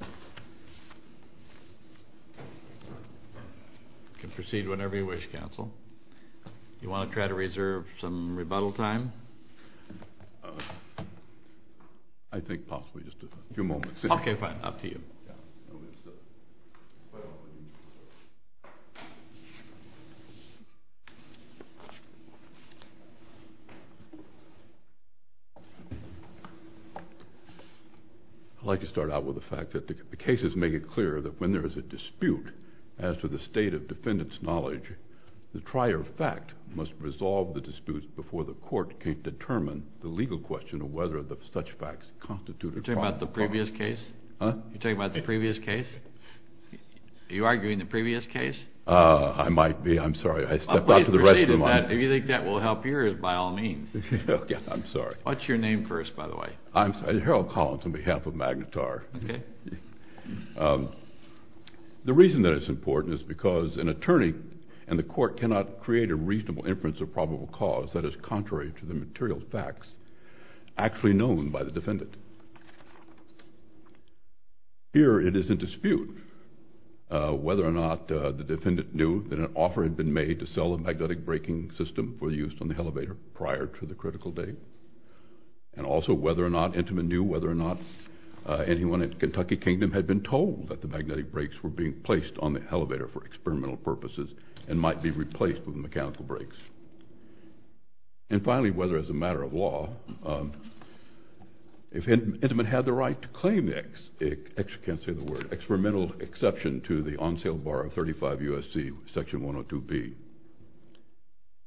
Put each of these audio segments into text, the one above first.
You can proceed whenever you wish, counsel. Do you want to try to reserve some rebuttal time? I think possibly just a few moments. Okay, fine. Up to you. I'd like to start out with the fact that the cases make it clear that when there is a dispute as to the state of defendant's knowledge, the prior fact must resolve the dispute before the court can determine the legal question of whether such facts constitute a crime. You're talking about the previous case? Huh? You're talking about the previous case? Are you arguing the previous case? I might be. I'm sorry. I stepped out to the rest of them. Please proceed in that if you think that will help yours by all means. I'm sorry. What's your name first, by the way? Harold Collins on behalf of Magnetar. Okay. The reason that it's important is because an attorney and the court cannot create a reasonable inference of probable cause that is contrary to the material facts actually known by the defendant. Here it is in dispute whether or not the defendant knew that an offer had been made to sell a magnetic braking system for use on the elevator prior to the critical date, and also whether or not Intiman knew whether or not anyone in Kentucky Kingdom had been told that the magnetic brakes were being placed on the elevator for experimental purposes and might be replaced with mechanical brakes. And finally, whether as a matter of law, if Intiman had the right to claim the, I actually can't say the word, experimental exception to the on-sale bar of 35 U.S.C. Section 102B.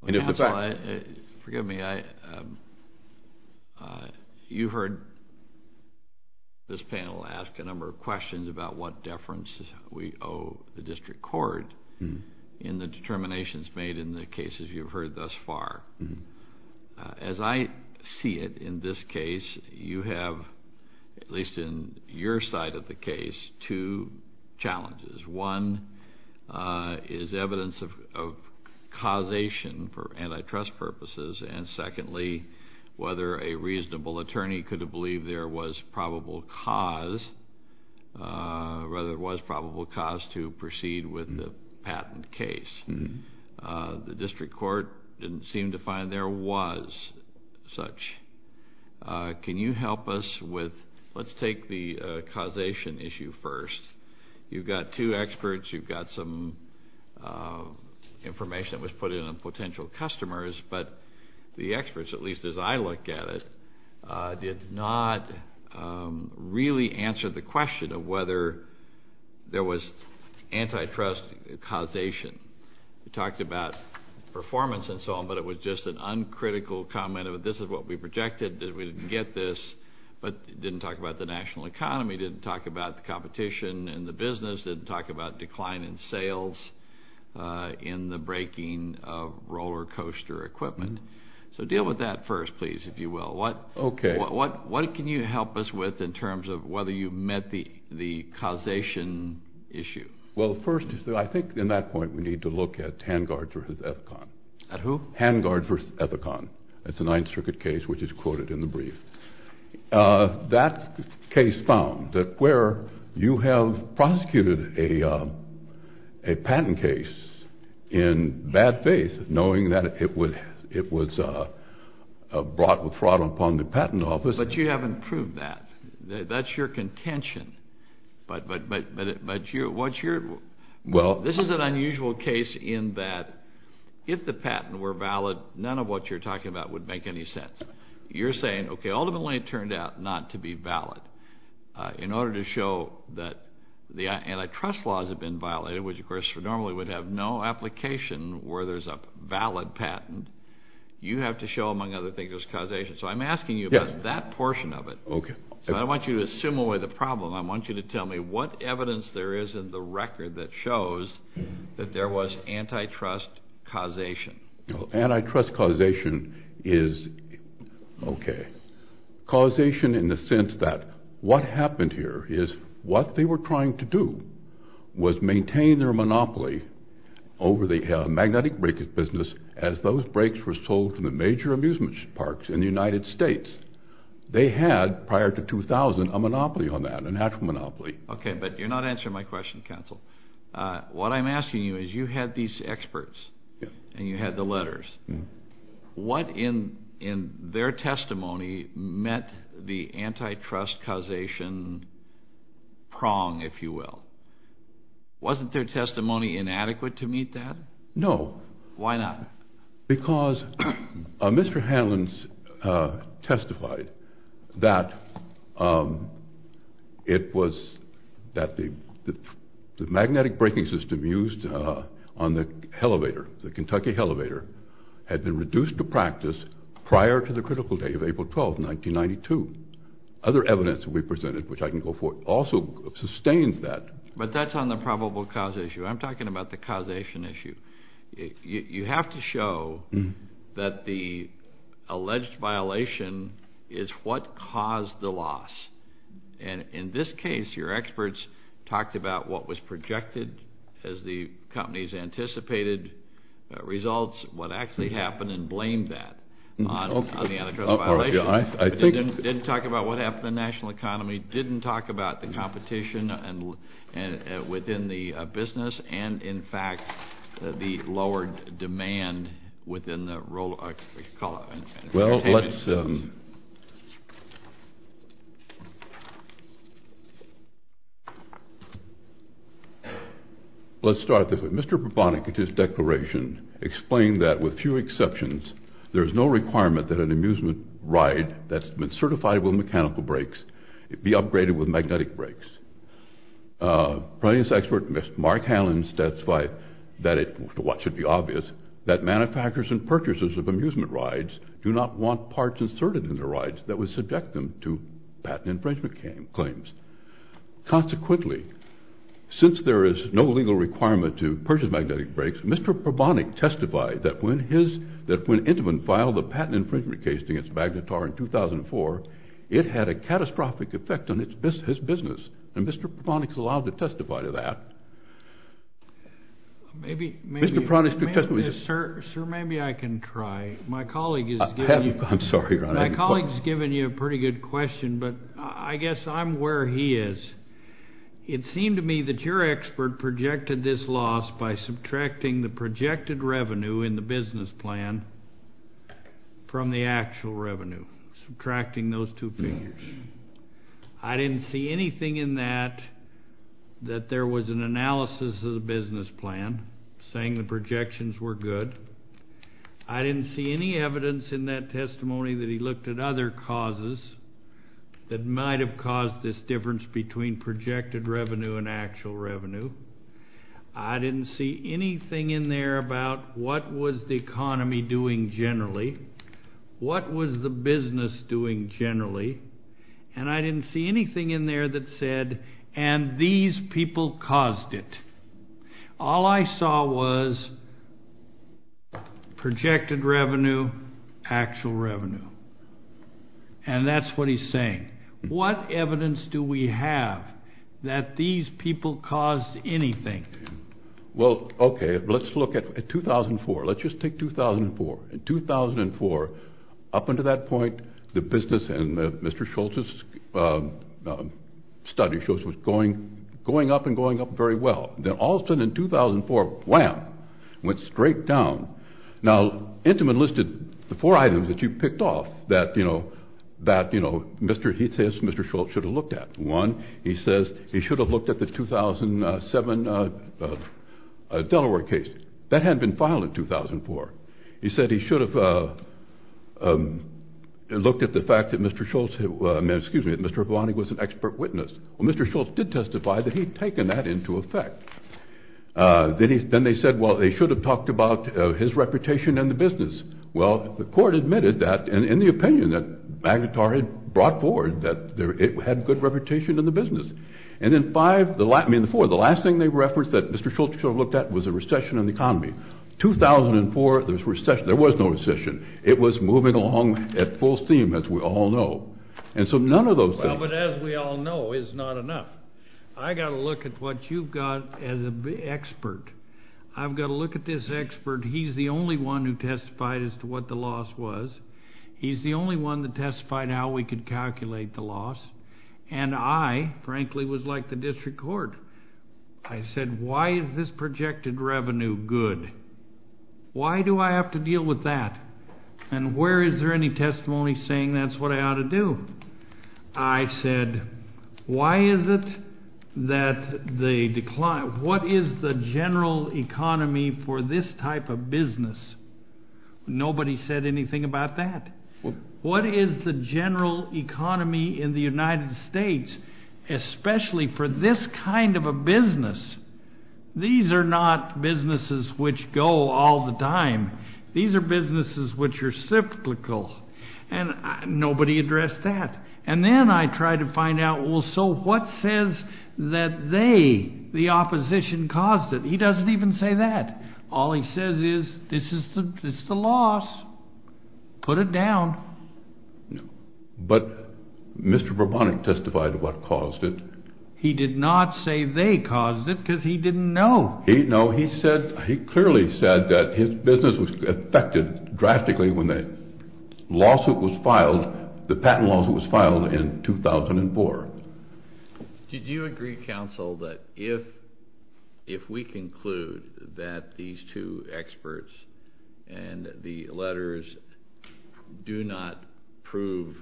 And if the fact... Counsel, forgive me. You've heard this panel ask a number of questions about what deference we owe the district court in the determinations made in the cases you've heard thus far. As I see it in this case, you have, at least in your side of the case, two challenges. One is evidence of causation for antitrust purposes. And secondly, whether a reasonable attorney could have believed there was probable cause to proceed with the patent case. The district court didn't seem to find there was such. Can you help us with... let's take the causation issue first. You've got two experts. You've got some information that was put in on potential customers. But the experts, at least as I look at it, did not really answer the question of whether there was antitrust causation. We talked about performance and so on, but it was just an uncritical comment of this is what we projected, that we didn't get this. But didn't talk about the national economy. Didn't talk about the competition in the business. Didn't talk about decline in sales in the breaking of roller coaster equipment. So deal with that first, please, if you will. Okay. What can you help us with in terms of whether you've met the causation issue? Well, first, I think in that point we need to look at Hangard v. Ethicon. At who? Hangard v. Ethicon. It's a Ninth Circuit case which is quoted in the brief. That case found that where you have prosecuted a patent case in bad faith, knowing that it was brought with fraud upon the patent office. But you haven't proved that. That's your contention. But what's your – this is an unusual case in that if the patent were valid, none of what you're talking about would make any sense. You're saying, okay, ultimately it turned out not to be valid. In order to show that the antitrust laws have been violated, which, of course, normally would have no application where there's a valid patent, you have to show, among other things, there's causation. So I'm asking you about that portion of it. Okay. So I want you to assume away the problem. I want you to tell me what evidence there is in the record that shows that there was antitrust causation. Antitrust causation is – okay. Causation in the sense that what happened here is what they were trying to do was maintain their monopoly over the magnetic brake business as those brakes were sold to the major amusement parks in the United States. They had, prior to 2000, a monopoly on that, a natural monopoly. Okay, but you're not answering my question, counsel. What I'm asking you is you had these experts and you had the letters. What in their testimony met the antitrust causation prong, if you will? Wasn't their testimony inadequate to meet that? No. Why not? Because Mr. Hanlon testified that it was that the magnetic braking system used on the elevator, the Kentucky elevator, had been reduced to practice prior to the critical day of April 12, 1992. Other evidence we presented, which I can go forward, also sustains that. But that's on the probable cause issue. I'm talking about the causation issue. You have to show that the alleged violation is what caused the loss. And in this case, your experts talked about what was projected as the company's anticipated results, what actually happened, and blamed that on the antitrust violation. Didn't talk about what happened in the national economy. Didn't talk about the competition within the business. And, in fact, the lowered demand within the role of the company. Well, let's start this way. Mr. Probonik, in his declaration, explained that, with few exceptions, there is no requirement that an amusement ride that's been certified with mechanical brakes be upgraded with magnetic brakes. Price expert, Mr. Mark Hallin, states that, to what should be obvious, that manufacturers and purchasers of amusement rides do not want parts inserted in their rides that would subject them to patent infringement claims. Consequently, since there is no legal requirement to purchase magnetic brakes, Mr. Probonik testified that when Intamin filed the patent infringement case against Magnetar in 2004, it had a catastrophic effect on his business. And Mr. Probonik is allowed to testify to that. Maybe I can try. My colleague is giving you a pretty good question, but I guess I'm where he is. It seemed to me that your expert projected this loss by subtracting the projected revenue in the business plan from the actual revenue, subtracting those two figures. I didn't see anything in that that there was an analysis of the business plan saying the projections were good. I didn't see any evidence in that testimony that he looked at other causes that might have caused this difference between projected revenue and actual revenue. I didn't see anything in there about what was the economy doing generally, what was the business doing generally, and I didn't see anything in there that said, and these people caused it. All I saw was projected revenue, actual revenue. And that's what he's saying. What evidence do we have that these people caused anything? Well, okay, let's look at 2004. Let's just take 2004. In 2004, up until that point, the business and Mr. Schultz's study shows it was going up and going up very well. Then all of a sudden in 2004, wham, went straight down. Now, Intiman listed the four items that you picked off that he says Mr. Schultz should have looked at. One, he says he should have looked at the 2007 Delaware case. That hadn't been filed in 2004. He said he should have looked at the fact that Mr. Schultz, excuse me, that Mr. Avani was an expert witness. Well, Mr. Schultz did testify that he had taken that into effect. Then they said, well, they should have talked about his reputation in the business. Well, the court admitted that, in the opinion that Magnitari brought forward, that it had a good reputation in the business. And then five, I mean four, the last thing they referenced that Mr. Schultz should have looked at was a recession in the economy. 2004, there was no recession. It was moving along at full steam, as we all know. And so none of those things. Well, but as we all know, it's not enough. I've got to look at what you've got as an expert. I've got to look at this expert. He's the only one who testified as to what the loss was. He's the only one that testified how we could calculate the loss. And I, frankly, was like the district court. I said, why is this projected revenue good? Why do I have to deal with that? And where is there any testimony saying that's what I ought to do? I said, why is it that they decline? What is the general economy for this type of business? Nobody said anything about that. What is the general economy in the United States, especially for this kind of a business? These are not businesses which go all the time. These are businesses which are cyclical. And nobody addressed that. And then I tried to find out, well, so what says that they, the opposition, caused it? He doesn't even say that. All he says is this is the loss. Put it down. But Mr. Berbonic testified what caused it. He did not say they caused it because he didn't know. No, he clearly said that his business was affected drastically when the patent lawsuit was filed in 2004. Did you agree, counsel, that if we conclude that these two experts and the letters do not prove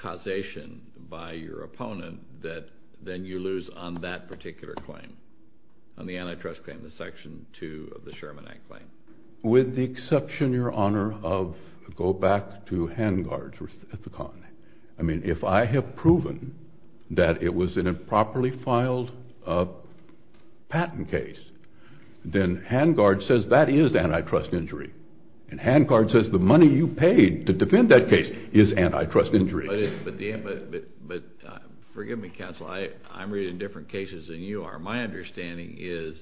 causation by your opponent, that then you lose on that particular claim, on the antitrust claim, the Section 2 of the Sherman Act claim? With the exception, Your Honor, of go back to hand guards at the colony. I mean, if I have proven that it was an improperly filed patent case, then hand guard says that is antitrust injury. And hand guard says the money you paid to defend that case is antitrust injury. But forgive me, counsel. I'm reading different cases than you are. My understanding is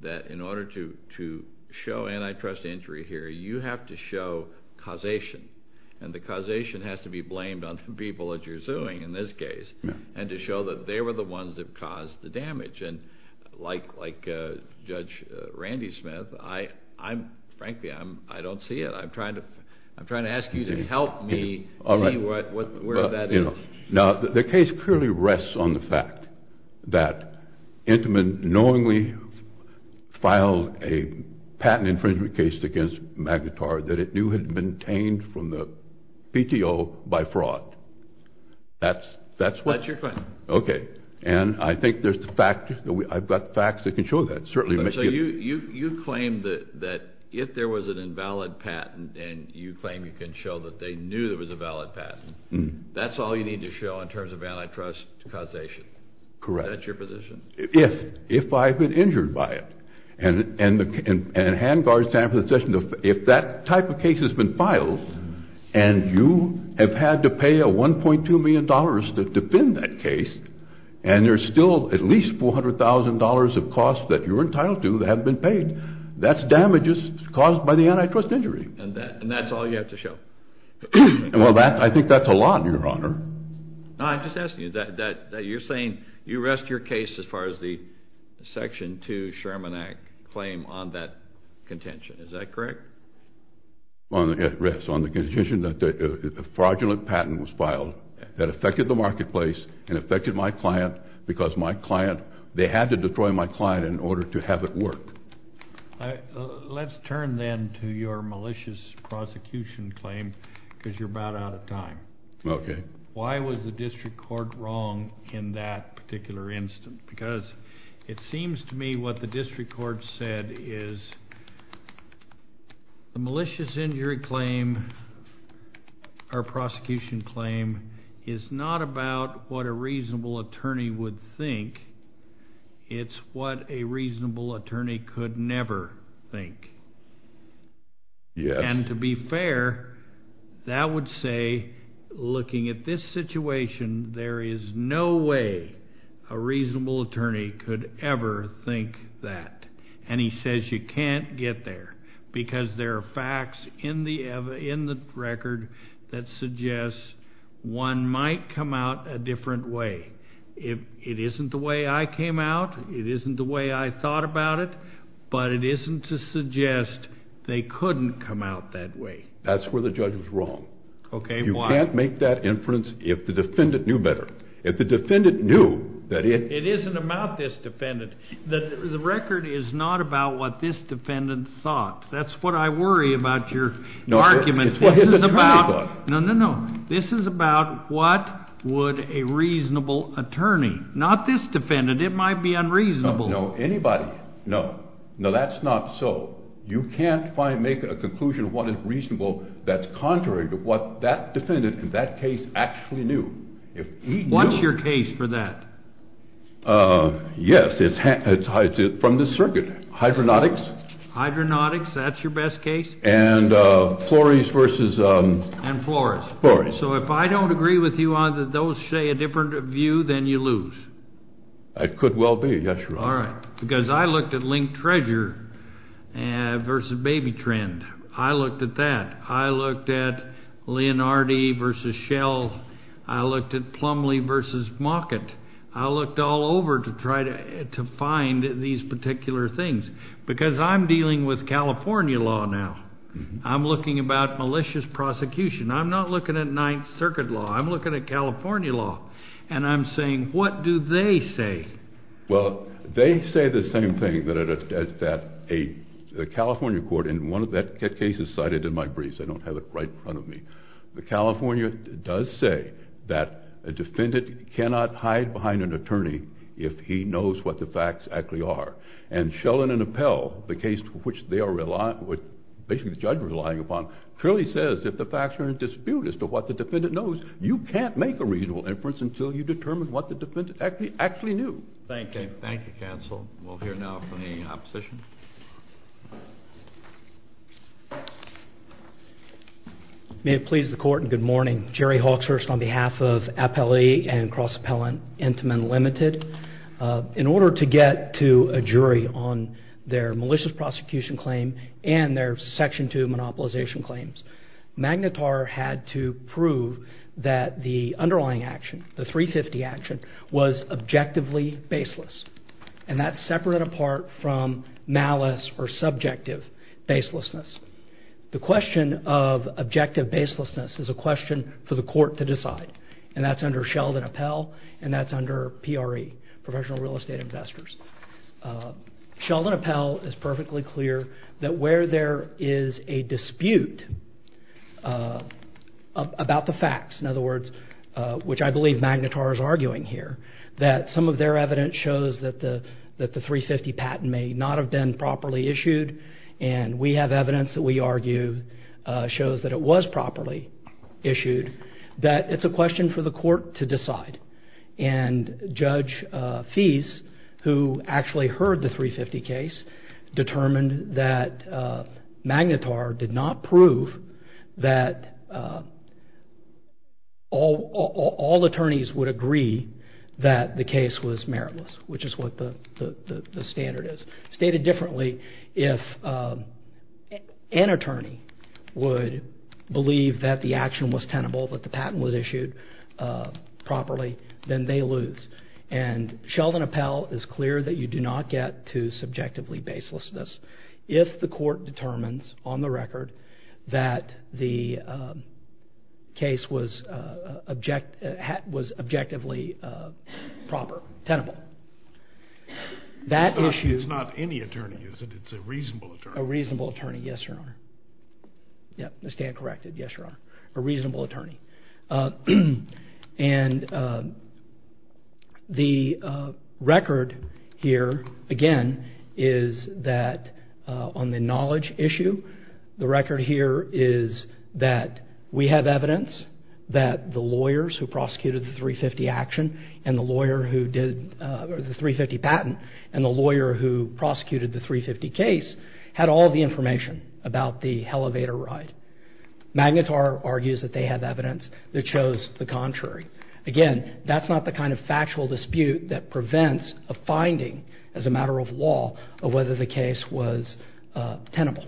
that in order to show antitrust injury here, you have to show causation. And the causation has to be blamed on the people that you're suing in this case. And to show that they were the ones that caused the damage. And like Judge Randy Smith, I'm frankly, I don't see it. I'm trying to ask you to help me see where that is. Now, the case clearly rests on the fact that Intiman knowingly filed a patent infringement case against Magnitar that it knew had been obtained from the PTO by fraud. That's what? That's your question. Okay. And I think there's the fact, I've got facts that can show that. So you claim that if there was an invalid patent and you claim you can show that they knew there was a valid patent. That's all you need to show in terms of antitrust causation? Correct. Is that your position? If. If I've been injured by it. And hand guards time for the session, if that type of case has been filed, and you have had to pay $1.2 million to defend that case, and there's still at least $400,000 of costs that you're entitled to that haven't been paid, that's damages caused by the antitrust injury. And that's all you have to show? Well, I think that's a lot, Your Honor. No, I'm just asking you, you're saying you rest your case as far as the Section 2 Sherman Act claim on that contention. Is that correct? It rests on the contention that a fraudulent patent was filed that affected the marketplace and affected my client because my client, they had to destroy my client in order to have it work. Let's turn then to your malicious prosecution claim because you're about out of time. Okay. Why was the district court wrong in that particular instance? Because it seems to me what the district court said is the malicious injury claim or prosecution claim is not about what a reasonable attorney would think. It's what a reasonable attorney could never think. Yes. And to be fair, that would say looking at this situation, there is no way a reasonable attorney could ever think that. And he says you can't get there because there are facts in the record that suggests one might come out a different way. It isn't the way I came out. It isn't the way I thought about it. But it isn't to suggest they couldn't come out that way. That's where the judge was wrong. Okay, why? You can't make that inference if the defendant knew better. If the defendant knew that it… It isn't about this defendant. The record is not about what this defendant thought. That's what I worry about your argument. It's what his attorney thought. No, no, no. This is about what would a reasonable attorney, not this defendant. It might be unreasonable. No, no. Anybody. No. No, that's not so. You can't make a conclusion of what is reasonable that's contrary to what that defendant in that case actually knew. What's your case for that? Yes, it's from the circuit. Hydronautics. Hydronautics, that's your best case? And Flores versus… And Flores. Flores. So if I don't agree with you on those, say a different view, then you lose. It could well be, yes, Your Honor. All right, because I looked at Link Treasure versus Baby Trend. I looked at that. I looked at Leonardi versus Shell. I looked at Plumlee versus Mockett. I looked all over to try to find these particular things because I'm dealing with California law now. I'm looking about malicious prosecution. I'm not looking at Ninth Circuit law. I'm looking at California law. And I'm saying what do they say? Well, they say the same thing that a California court in one of their cases cited in my briefs. I don't have it right in front of me. The California does say that a defendant cannot hide behind an attorney if he knows what the facts actually are. And Shellen and Appell, the case to which they are relying, which basically the judge is relying upon, clearly says if the facts are in dispute as to what the defendant knows, you can't make a reasonable inference until you determine what the defendant actually knew. Thank you. Thank you, counsel. We'll hear now from the opposition. May it please the Court and good morning. Jerry Hawkshurst on behalf of Appellee and Cross-Appellant Intamin Limited. In order to get to a jury on their malicious prosecution claim and their Section 2 monopolization claims, Magnitar had to prove that the underlying action, the 350 action, was objectively baseless. And that's separate and apart from malice or subjective baselessness. The question of objective baselessness is a question for the court to decide. And that's under Sheldon Appell and that's under PRE, Professional Real Estate Investors. Sheldon Appell is perfectly clear that where there is a dispute about the facts, in other words, which I believe Magnitar is arguing here, that some of their evidence shows that the 350 patent may not have been properly issued and we have evidence that we argue shows that it was properly issued. That it's a question for the court to decide. And Judge Fease, who actually heard the 350 case, determined that Magnitar did not prove that all attorneys would agree that the case was meritless, which is what the standard is. Stated differently, if an attorney would believe that the action was tenable, that the patent was issued properly, then they lose. And Sheldon Appell is clear that you do not get to subjectively baselessness if the court determines on the record that the case was objectively proper, tenable. It's not any attorney, is it? It's a reasonable attorney. A reasonable attorney, yes, Your Honor. Yes, I stand corrected, yes, Your Honor. A reasonable attorney. And the record here, again, is that on the knowledge issue, the record here is that we have evidence that the lawyers who prosecuted the 350 action and the lawyer who did the 350 patent and the lawyer who prosecuted the 350 case had all the information about the elevator ride. Magnitar argues that they have evidence that shows the contrary. Again, that's not the kind of factual dispute that prevents a finding as a matter of law of whether the case was tenable.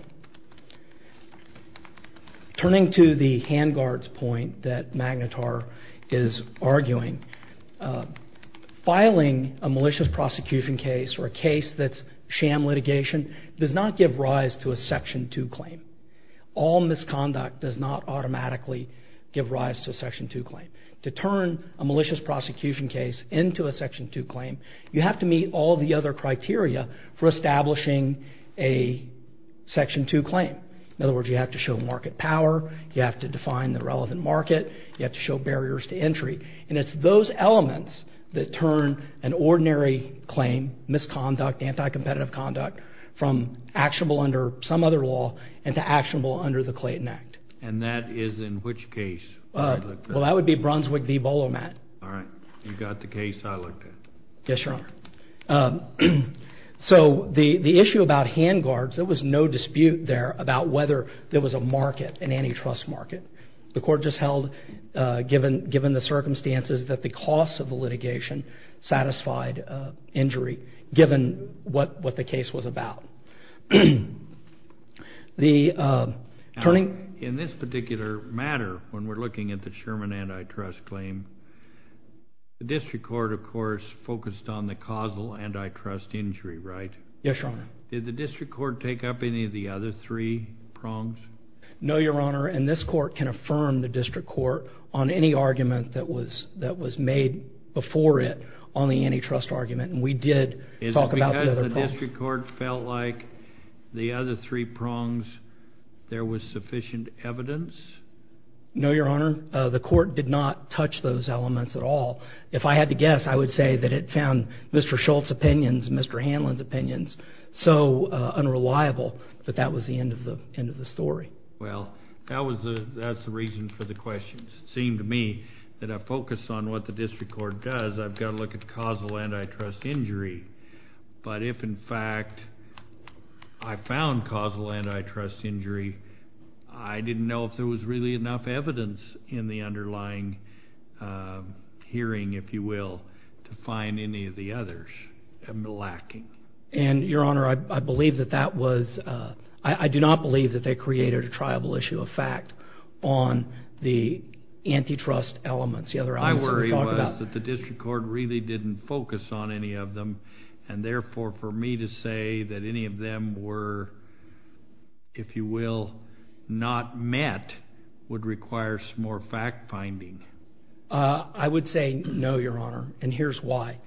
Turning to the hand guard's point that Magnitar is arguing, filing a malicious prosecution case or a case that's sham litigation does not give rise to a Section 2 claim. All misconduct does not automatically give rise to a Section 2 claim. To turn a malicious prosecution case into a Section 2 claim, you have to meet all the other criteria for establishing a Section 2 claim. In other words, you have to show market power. You have to define the relevant market. You have to show barriers to entry. And it's those elements that turn an ordinary claim, misconduct, anti-competitive conduct, from actionable under some other law into actionable under the Clayton Act. And that is in which case? Well, that would be Brunswick v. Volomat. All right. You've got the case I looked at. Yes, Your Honor. So the issue about hand guards, there was no dispute there about whether there was a market, an antitrust market. The Court just held, given the circumstances, that the cost of the litigation satisfied injury, given what the case was about. In this particular matter, when we're looking at the Sherman antitrust claim, the District Court, of course, focused on the causal antitrust injury, right? Yes, Your Honor. Did the District Court take up any of the other three prongs? No, Your Honor, and this Court can affirm the District Court on any argument that was made before it on the antitrust argument. And we did talk about the other prongs. Is it because the District Court felt like the other three prongs, there was sufficient evidence? No, Your Honor. The Court did not touch those elements at all. If I had to guess, I would say that it found Mr. Schultz's opinions, Mr. Hanlon's opinions, so unreliable that that was the end of the story. Well, that's the reason for the questions. It seemed to me that I focused on what the District Court does. I've got to look at causal antitrust injury. But if, in fact, I found causal antitrust injury, I didn't know if there was really enough evidence in the underlying hearing, if you will, to find any of the others lacking. And, Your Honor, I believe that that was, I do not believe that they created a triable issue of fact on the antitrust elements. The other answer we talked about. My worry was that the District Court really didn't focus on any of them, and, therefore, for me to say that any of them were, if you will, not met, would require some more fact-finding. I would say no, Your Honor, and here's why.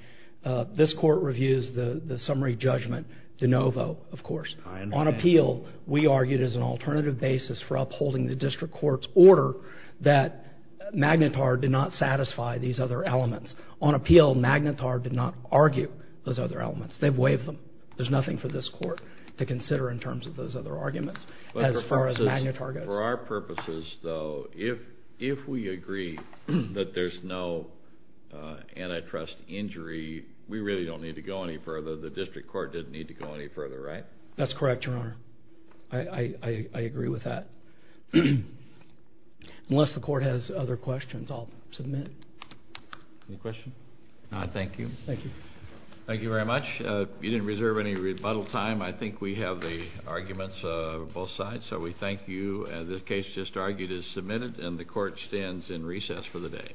This Court reviews the summary judgment de novo, of course. On appeal, we argued as an alternative basis for upholding the District Court's order that Magnitard did not satisfy these other elements. On appeal, Magnitard did not argue those other elements. They've waived them. There's nothing for this Court to consider in terms of those other arguments, as far as Magnitard goes. For our purposes, though, if we agree that there's no antitrust injury, we really don't need to go any further. The District Court didn't need to go any further, right? That's correct, Your Honor. I agree with that. Unless the Court has other questions, I'll submit. Any questions? No, thank you. Thank you. Thank you very much. You didn't reserve any rebuttal time. I think we have the arguments on both sides, so we thank you. The case just argued is submitted, and the Court stands in recess for the day.